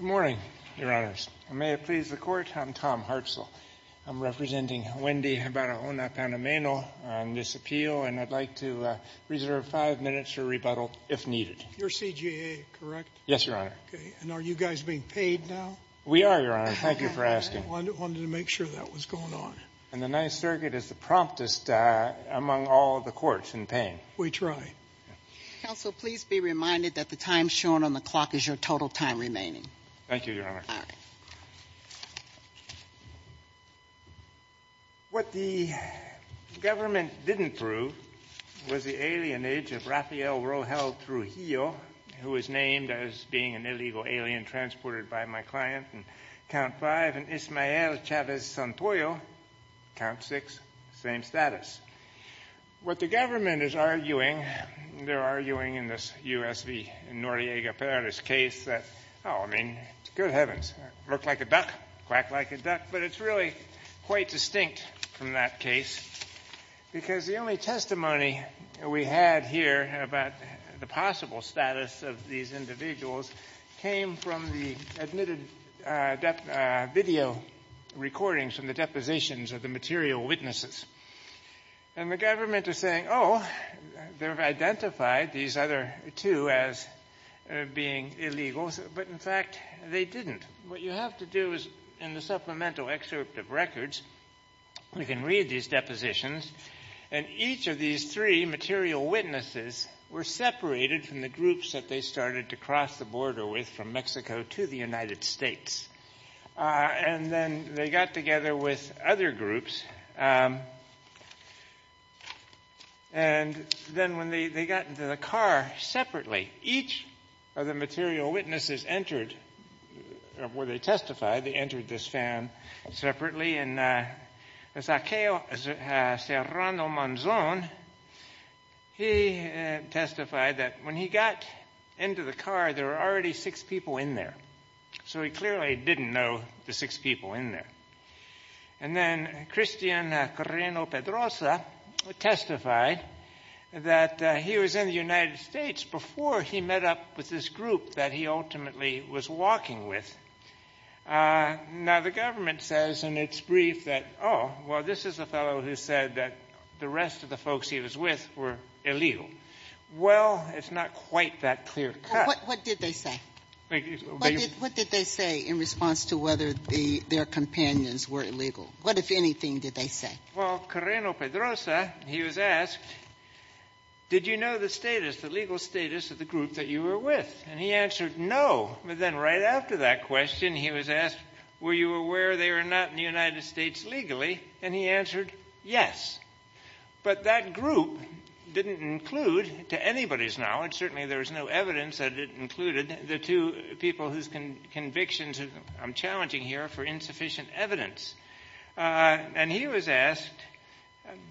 Good morning, Your Honors. May it please the Court, I'm Tom Hartzell. I'm representing Wendy Barahona-Panameno on this appeal, and I'd like to reserve five minutes for rebuttal if needed. You're CJA, correct? Yes, Your Honor. Okay, and are you guys being paid now? We are, Your Honor. Thank you for asking. I wanted to make sure that was going on. And the Ninth Circuit is the promptest among all the courts in paying. We try. Counsel, please be reminded that the time shown on the clock is your total time remaining. Thank you, Your Honor. All right. What the government didn't prove was the alienage of Rafael Rojel Trujillo, who is named as being an illegal alien transported by my client, and Count 5, and Ismael Chavez-Santoyo, Count 6, same status. What the government is arguing, they're arguing in this U.S. v. Noriega Perez case that, oh, I mean, good heavens, look like a duck, quack like a duck, but it's really quite distinct from that case, because the only testimony we had here about the possible status of these individuals came from the admitted video recordings from the depositions of the material witnesses. And the government is saying, oh, they've identified these other two as being illegal, but in fact, they didn't. What you have to do is, in the supplemental excerpt of records, we can read these depositions, and each of these three material witnesses were separated from the groups that they started to cross the border with from Mexico to the United States. And then they got together with other groups. And then when they got into the car separately, each of the material witnesses entered, or they testified, they entered this van separately, and Zaccheo Serrano Monzon, he testified that when he got into the car, there were already six people in there. So he clearly didn't know the six people in there. And then Cristian Correno Pedrosa testified that he was in the United States before he met up with this group that he ultimately was walking with. Now, the government says in its brief that, oh, well, this is a fellow who said that the rest of the folks he was with were illegal. Well, it's not quite that clear cut. What did they say? What did they say in response to whether their companions were illegal? What, if anything, did they say? Well, Correno Pedrosa, he was asked, did you know the status, the legal status of the group that you were with? And he answered, no. But then right after that question, he was asked, were you aware they were not in the United States legally? And he answered, yes. But that group didn't include, to anybody's knowledge, certainly there was no evidence that it included, the two people whose convictions I'm challenging here for insufficient evidence. And he was asked,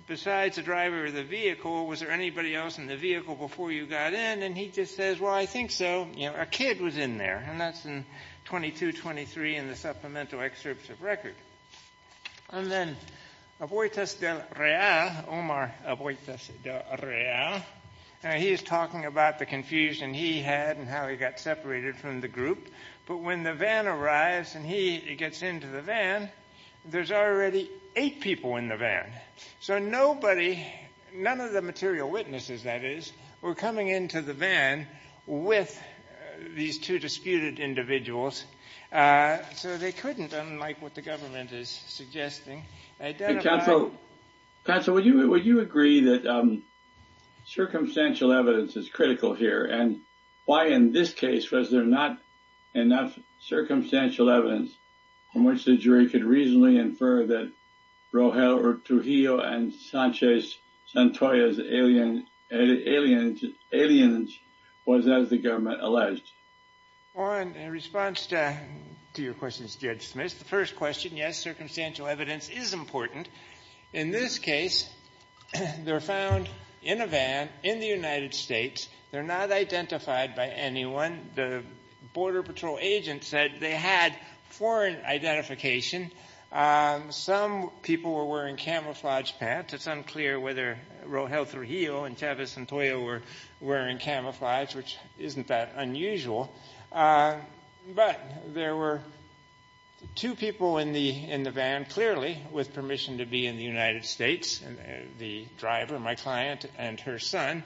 besides the driver of the vehicle, was there anybody else in the vehicle before you got in? And he just says, well, I think so. You know, a kid was in there. And that's in 2223 in the supplemental excerpts of record. And then, Oboitas del Real, Omar Oboitas del Real, he is talking about the confusion he had and how he got separated from the group. But when the van arrives and he gets into the van, there's already eight people in the So nobody, none of the material witnesses, that is, were coming into the van with these two disputed individuals. So they couldn't, unlike what the government is suggesting, identify. Counsel, would you agree that circumstantial evidence is critical here? And why, in this case, was there not enough circumstantial evidence from which the jury could reasonably infer that Rogel Ortugillo and Sanchez Santoya's aliens was, as the government alleged? Well, in response to your questions, Judge Smith, the first question, yes, circumstantial evidence is important. In this case, they're found in a van in the United States. They're not identified by anyone. The Border Patrol agent said they had foreign identification. Some people were wearing camouflage pants. It's unclear whether Rogel Ortugillo and Sanchez Santoya were wearing camouflage, which isn't that unusual. But there were two people in the van, clearly, with permission to be in the United States, the driver, my client, and her son.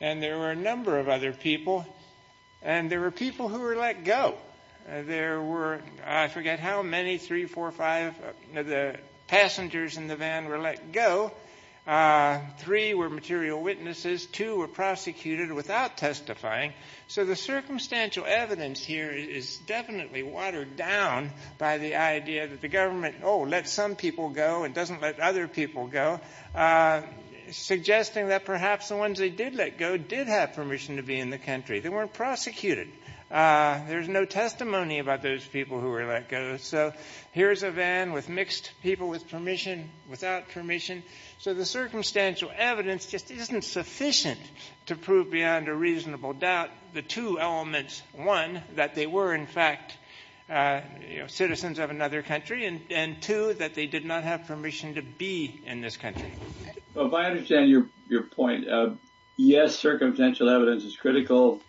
And there were a number of other people. And there were people who were let go. There were, I forget how many, three, four, five of the passengers in the van were let go. Three were material witnesses. Two were prosecuted without testifying. So the circumstantial evidence here is definitely watered down by the idea that the government, oh, lets some people go and doesn't let other people go, suggesting that perhaps the ones they did let go did have permission to be in the country. They weren't prosecuted. There's no testimony about those people who were let go. So here's a van with mixed people with permission, without permission. So the circumstantial evidence just isn't sufficient to prove beyond a reasonable doubt the two elements, one, that they were, in fact, citizens of another country, and two, that they did not have permission to be in this country. Well, if I understand your point, yes, circumstantial evidence is critical.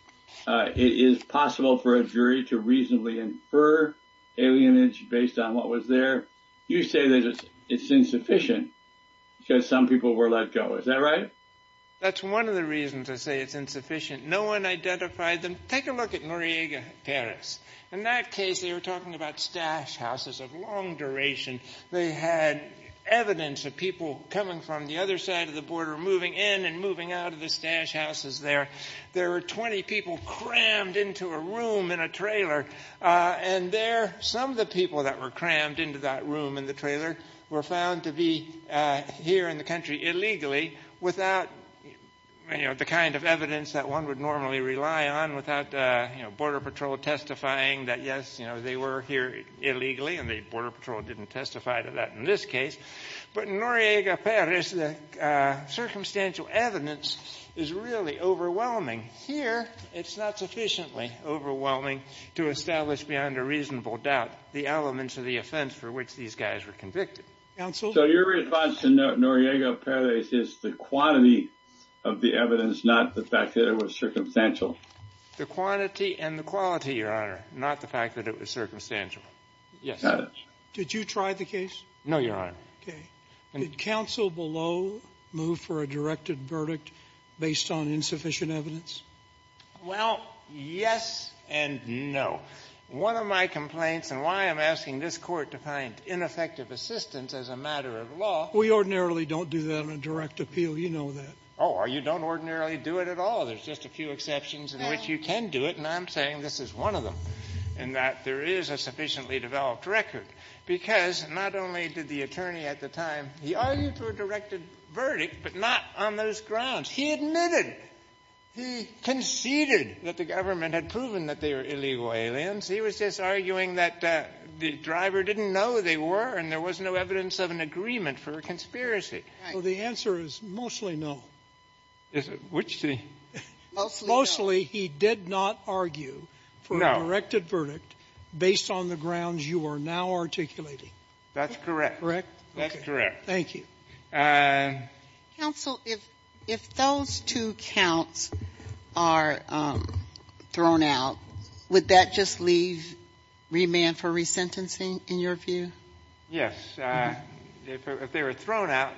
It is possible for a jury to reasonably infer alienage based on what was there. You say that it's insufficient because some people were let go. Is that right? That's one of the reasons I say it's insufficient. No one identified them. Take a look at Noriega, Paris. In that case, they were talking about stash houses of long duration. They had evidence of people coming from the other side of the border, moving in and moving out of the stash houses there. There were 20 people crammed into a room in a trailer, and there, some of the people that were crammed into that room in the trailer were found to be here in the country illegally without the kind of evidence that one would normally rely on, without Border Patrol testifying that, yes, they were here illegally, and the Border Patrol didn't testify to that in this case. But in Noriega, Paris, the circumstantial evidence is really overwhelming. Here, it's not sufficiently overwhelming to establish beyond a reasonable doubt the elements of the offense for which these guys were convicted. So your response to Noriega, Paris, is the quantity of the evidence, not the fact that it was circumstantial? The quantity and the quality, Your Honor, not the fact that it was circumstantial. Yes. Got it. Did you try the case? No, Your Honor. Okay. Did counsel below move for a directed verdict based on insufficient evidence? Well, yes and no. One of my complaints and why I'm asking this Court to find ineffective assistance as a matter of law — We ordinarily don't do that on a direct appeal. You know that. Oh, you don't ordinarily do it at all. There's just a few exceptions in which you can do it, and I'm saying this is one of them, in that there is a sufficiently developed record, because not only did the attorney at the time, he argued for a directed verdict, but not on those grounds. He admitted. He conceded that the government had proven that they were illegal aliens. He was just arguing that the driver didn't know they were, and there was no evidence of an agreement for a conspiracy. Right. So the answer is mostly no. Which the — Mostly no. Mostly he did not argue for a directed verdict based on the grounds you are now articulating. That's correct. Correct? That's correct. Thank you. Counsel, if those two counts are thrown out, would that just leave remand for resentencing in your view? Yes. If they were thrown out,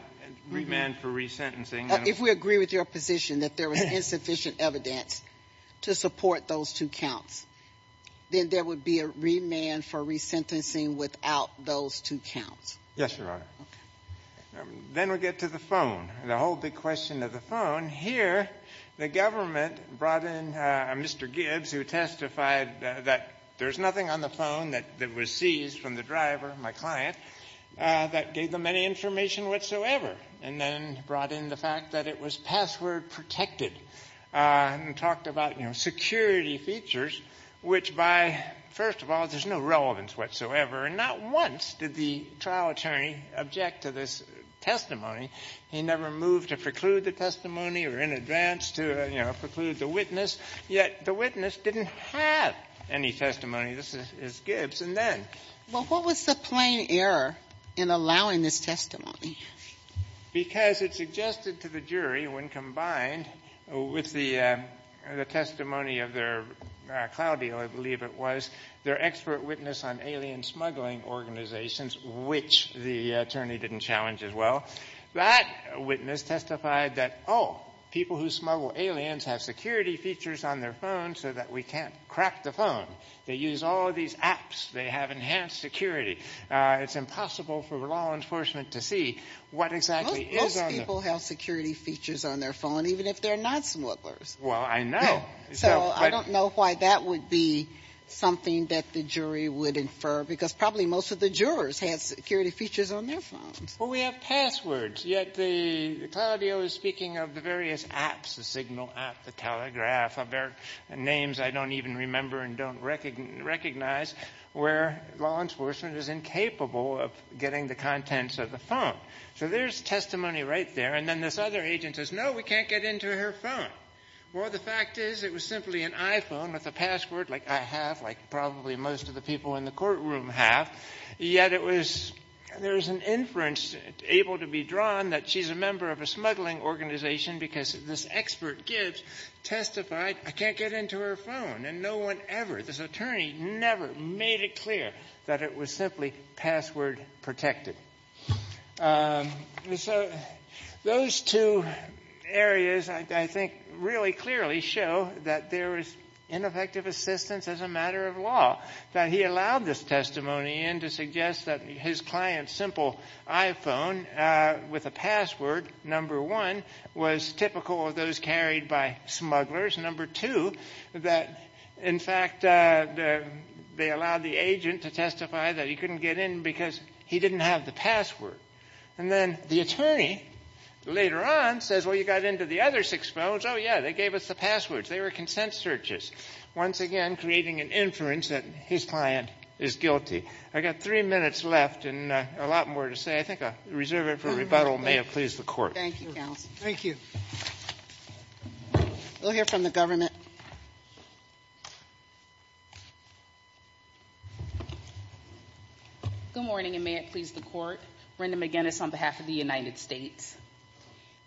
remand for resentencing. If we agree with your position that there was insufficient evidence to support those two counts, then there would be a remand for resentencing without those two Yes, Your Honor. Okay. Then we get to the phone, the whole big question of the phone. Here, the government brought in Mr. Gibbs, who testified that there's nothing on the phone that was seized from the driver, my client, that gave them any information whatsoever, and then brought in the fact that it was password protected, and talked about, you know, security features, which by — first of all, there's no relevance whatsoever, and not once did the trial attorney object to this testimony. He never moved to preclude the testimony or in advance to, you know, preclude the witness, yet the witness didn't have any testimony. This is Gibbs. And then — Well, what was the plain error in allowing this testimony? Because it suggested to the jury, when combined with the testimony of their cloud deal, I believe it was, their expert witness on alien smuggling organizations, which the attorney didn't challenge as well, that witness testified that, oh, people who smuggle aliens have security features on their phone so that we can't crack the phone. They use all of these apps. They have enhanced security. It's impossible for law enforcement to see what exactly is on the — Most people have security features on their phone, even if they're not smugglers. Well, I know. So I don't know why that would be something that the jury would infer, because probably most of the jurors had security features on their phones. Well, we have passwords. Yet the cloud deal is speaking of the various apps, the Signal app, the Telegraph, of their names I don't even remember and don't recognize, where law enforcement is incapable of getting the contents of the phone. So there's testimony right there. And then this other agent says, no, we can't get into her phone. Well, the fact is it was simply an iPhone with a password, like I have, like probably most of the people in the courtroom have. Yet it was — there was an inference able to be drawn that she's a member of a smuggling organization because this expert Gibbs testified, I can't get into her phone. And no one ever, this attorney never made it clear that it was simply password protected. So those two areas, I think, really clearly show that there was ineffective assistance as a matter of law, that he allowed this testimony in to suggest that his client's simple iPhone with a password, number one, was typical of those carried by smugglers. Number two, that, in fact, they allowed the agent to testify that he couldn't get in because he didn't have the password. And then the attorney, later on, says, well, you got into the other six phones. Oh, yeah, they gave us the passwords. They were consent searches, once again creating an inference that his client is guilty. I've got three minutes left and a lot more to say. I think I'll reserve it for rebuttal. It may have pleased the Court. Thank you, counsel. Thank you. We'll hear from the government. Good morning, and may it please the Court. Brenda McGinnis on behalf of the United States.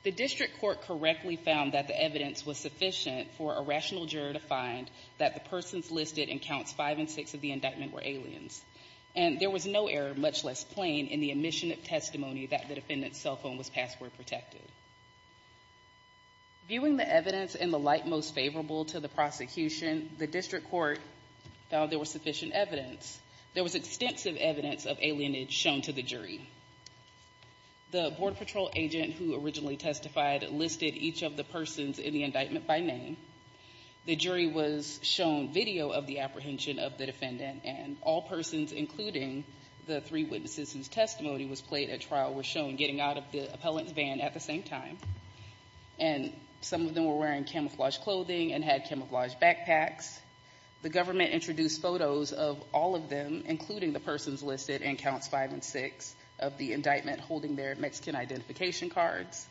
The district court correctly found that the evidence was sufficient for a rational juror to find that the persons listed in counts five and six of the indictment were aliens. And there was no error, much less plain, in the admission of testimony that the defendant's cell phone was password protected. Viewing the evidence in the light most favorable light, to the prosecution, the district court found there was sufficient evidence. There was extensive evidence of alienage shown to the jury. The Border Patrol agent who originally testified listed each of the persons in the indictment by name. The jury was shown video of the apprehension of the defendant, and all persons, including the three witnesses whose testimony was played at trial, were shown getting out of the appellant's van at the same time. And some of them were wearing camouflaged clothing and had camouflaged backpacks. The government introduced photos of all of them, including the persons listed in counts five and six of the indictment, holding their Mexican identification cards.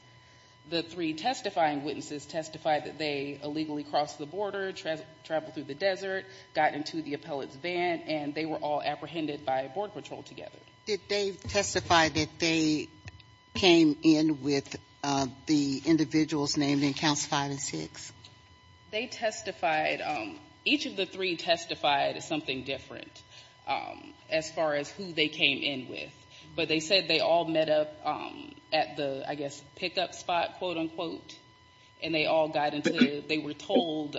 The three testifying witnesses testified that they illegally crossed the border, traveled through the desert, got into the appellant's van, and they were all apprehended by Border Patrol together. Did they testify that they came in with the individuals named in counts five and six? They testified. Each of the three testified something different as far as who they came in with. But they said they all met up at the, I guess, pick-up spot, quote, unquote, and they all got into the van. They were told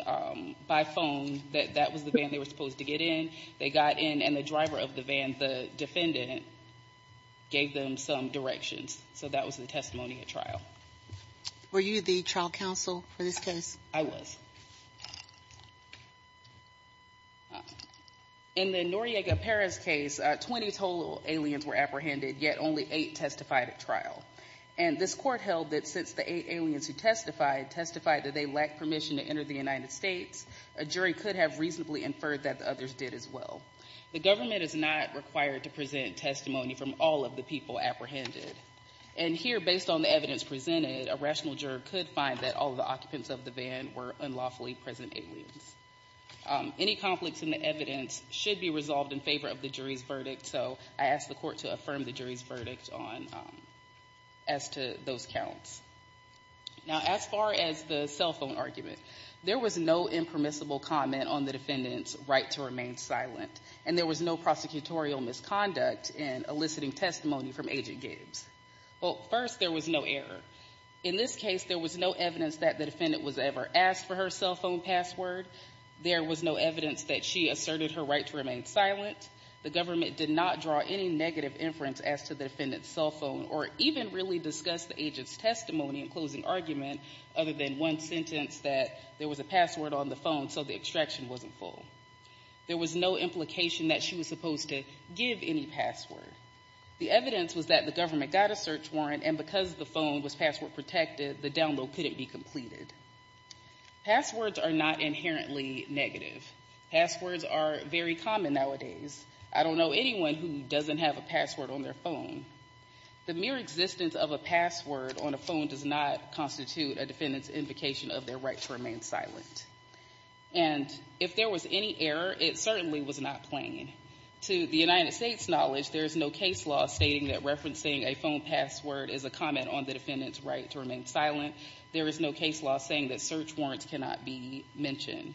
by phone that that was the van they were supposed to get in. They got in, and the driver of the van, the defendant, gave them some directions. So that was the testimony at trial. Were you the trial counsel for this case? I was. In the Noriega Perez case, 20 total aliens were apprehended, yet only 8 testified at trial. And this court held that since the 8 aliens who testified testified that they lacked permission to enter the United States, a jury could have reasonably inferred that the others did as well. The government is not required to present testimony from all of the people apprehended. And here, based on the evidence presented, a rational juror could find that all of the occupants of the van were unlawfully present aliens. Any conflicts in the evidence should be resolved in favor of the jury's verdict, so I ask the court to affirm the jury's verdict as to those counts. Now, as far as the cell phone argument, there was no impermissible comment on the defendant's right to remain silent. And there was no prosecutorial misconduct in eliciting testimony from Agent Gabes. Well, first, there was no error. In this case, there was no evidence that the defendant was ever asked for her cell phone password. There was no evidence that she asserted her right to remain silent. The government did not draw any negative inference as to the defendant's cell phone, or even really discuss the agent's testimony in closing argument other than one sentence that there was a password on the phone, so the extraction wasn't full. There was no implication that she was supposed to give any password. The evidence was that the government got a search warrant, and because the phone was password protected, the download couldn't be completed. Passwords are not inherently negative. Passwords are very common nowadays. I don't know anyone who doesn't have a password on their phone. The mere existence of a password on a phone does not constitute a defendant's implication of their right to remain silent. And if there was any error, it certainly was not plain. To the United States' knowledge, there is no case law stating that referencing a phone password is a comment on the defendant's right to remain silent. There is no case law saying that search warrants cannot be mentioned.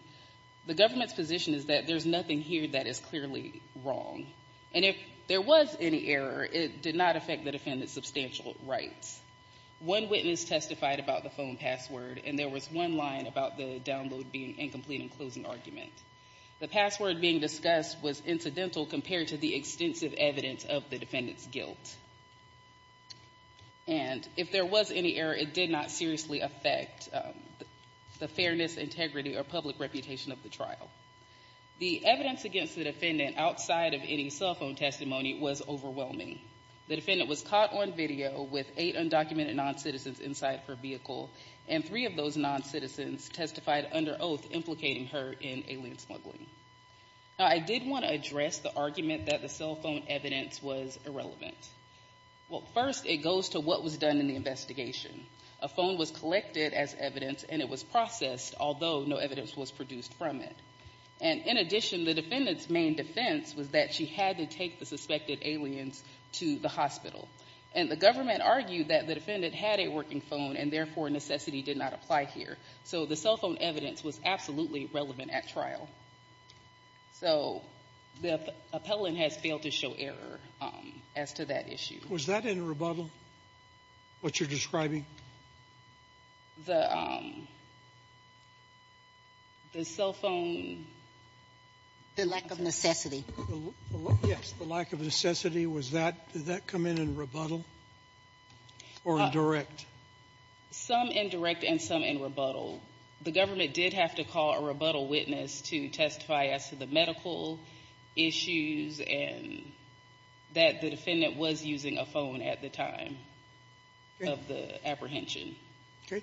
The government's position is that there's nothing here that is clearly wrong. And if there was any error, it did not affect the defendant's substantial rights. One witness testified about the phone password, and there was one line about the download being incomplete in closing argument. The password being discussed was incidental compared to the extensive evidence of the defendant's guilt. And if there was any error, it did not seriously affect the fairness, integrity, or public reputation of the trial. The evidence against the defendant outside of any cell phone testimony was overwhelming. The defendant was caught on video with eight undocumented non-citizens inside her vehicle, and three of those non-citizens testified under oath implicating her in alien smuggling. I did want to address the argument that the cell phone evidence was irrelevant. Well, first, it goes to what was done in the investigation. A phone was collected as evidence, and it was processed, although no evidence was produced from it. And in addition, the defendant's main defense was that she had to take the undocumented aliens to the hospital. And the government argued that the defendant had a working phone, and therefore necessity did not apply here. So the cell phone evidence was absolutely relevant at trial. So the appellant has failed to show error as to that issue. Was that in rebuttal, what you're describing? The cell phone... The lack of necessity. Yes, the lack of necessity. Did that come in in rebuttal or in direct? Some in direct and some in rebuttal. The government did have to call a rebuttal witness to testify as to the medical issues and that the defendant was using a phone at the time of the apprehension. Okay.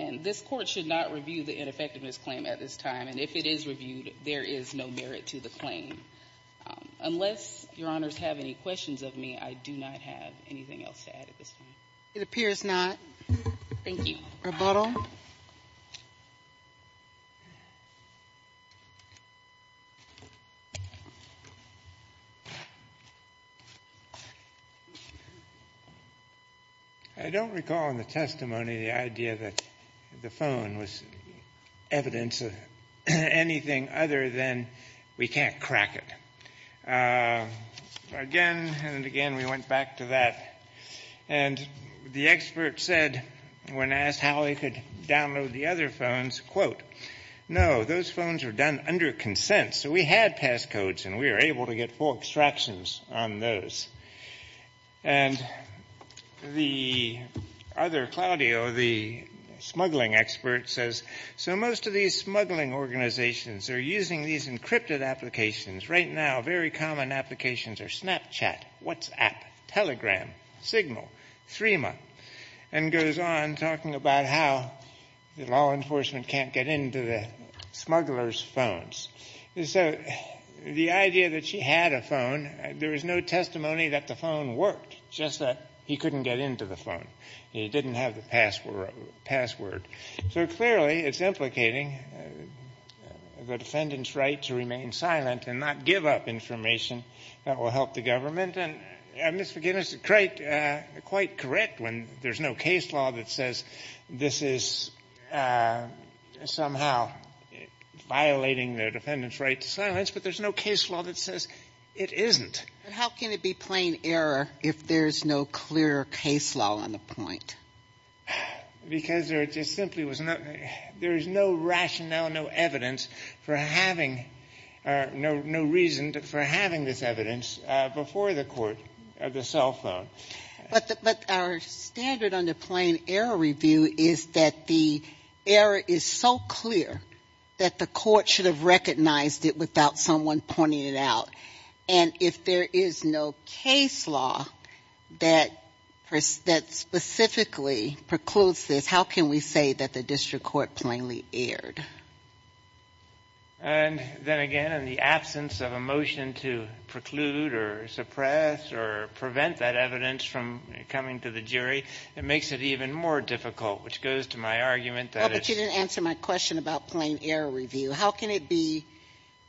And this court should not review the ineffectiveness claim at this time. And if it is reviewed, there is no merit to the claim. Unless Your Honors have any questions of me, I do not have anything else to add at this time. It appears not. Thank you. Rebuttal. I don't recall in the testimony the idea that the phone was evidence of anything other than we can't crack it. Again and again we went back to that. And the expert said when asked how they could download the other phones, quote, no, those phones were done under consent. So we had pass codes and we were able to get full extractions on those. And the other, Claudio, the smuggling expert says, so most of these smuggling organizations are using these encrypted applications. Right now very common applications are Snapchat, WhatsApp, Telegram, Signal, Threema. And goes on talking about how the law enforcement can't get into the smugglers' phones. So the idea that she had a phone, there was no testimony that the phone worked, just that he couldn't get into the phone. He didn't have the password. So clearly it's implicating the defendant's right to remain silent and not give up information that will help the government. And Ms. McGinnis is quite correct when there's no case law that says this is somehow violating the defendant's right to silence. But there's no case law that says it isn't. But how can it be plain error if there's no clear case law on the point? Because there just simply was not, there is no rationale, no evidence for having, no reason for having this evidence before the court of the cell phone. But our standard under plain error review is that the error is so clear that the court should have recognized it without someone pointing it out. And if there is no case law that specifically precludes this, how can we say that the district court plainly erred? And then again, in the absence of a motion to preclude or suppress or prevent that evidence from coming to the jury, it makes it even more difficult, which goes to my argument that it's... Well, but you didn't answer my question about plain error review. How can it be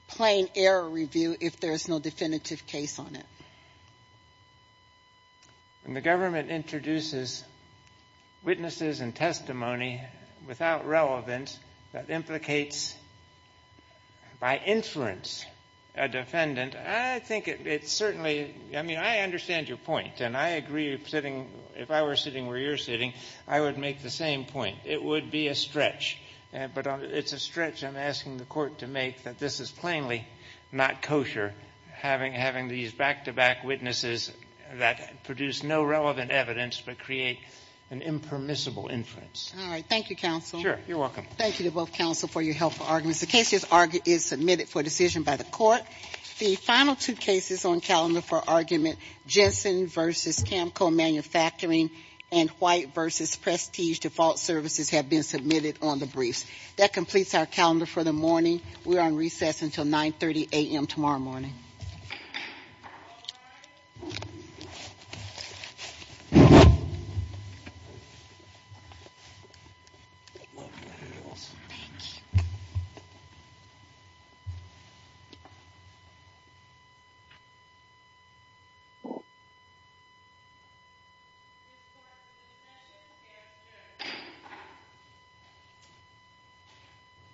plain error review if there's no definitive case on it? When the government introduces witnesses and testimony without relevance that implicates, by inference, a defendant, I think it's certainly, I mean, I understand your point. And I agree sitting, if I were sitting where you're sitting, I would make the same point. It would be a stretch. But it's a stretch I'm asking the court to make that this is plainly not kosher, having these back-to-back witnesses that produce no relevant evidence but create an impermissible inference. All right. Thank you, counsel. Sure. You're welcome. Thank you to both counsel for your helpful arguments. The case is submitted for decision by the court. The final two cases on calendar for argument, Jensen v. Camco Manufacturing and White v. Prestige Default Services have been submitted on the briefs. That completes our calendar for the morning. We are on recess until 9.30 a.m. tomorrow morning. Thank you.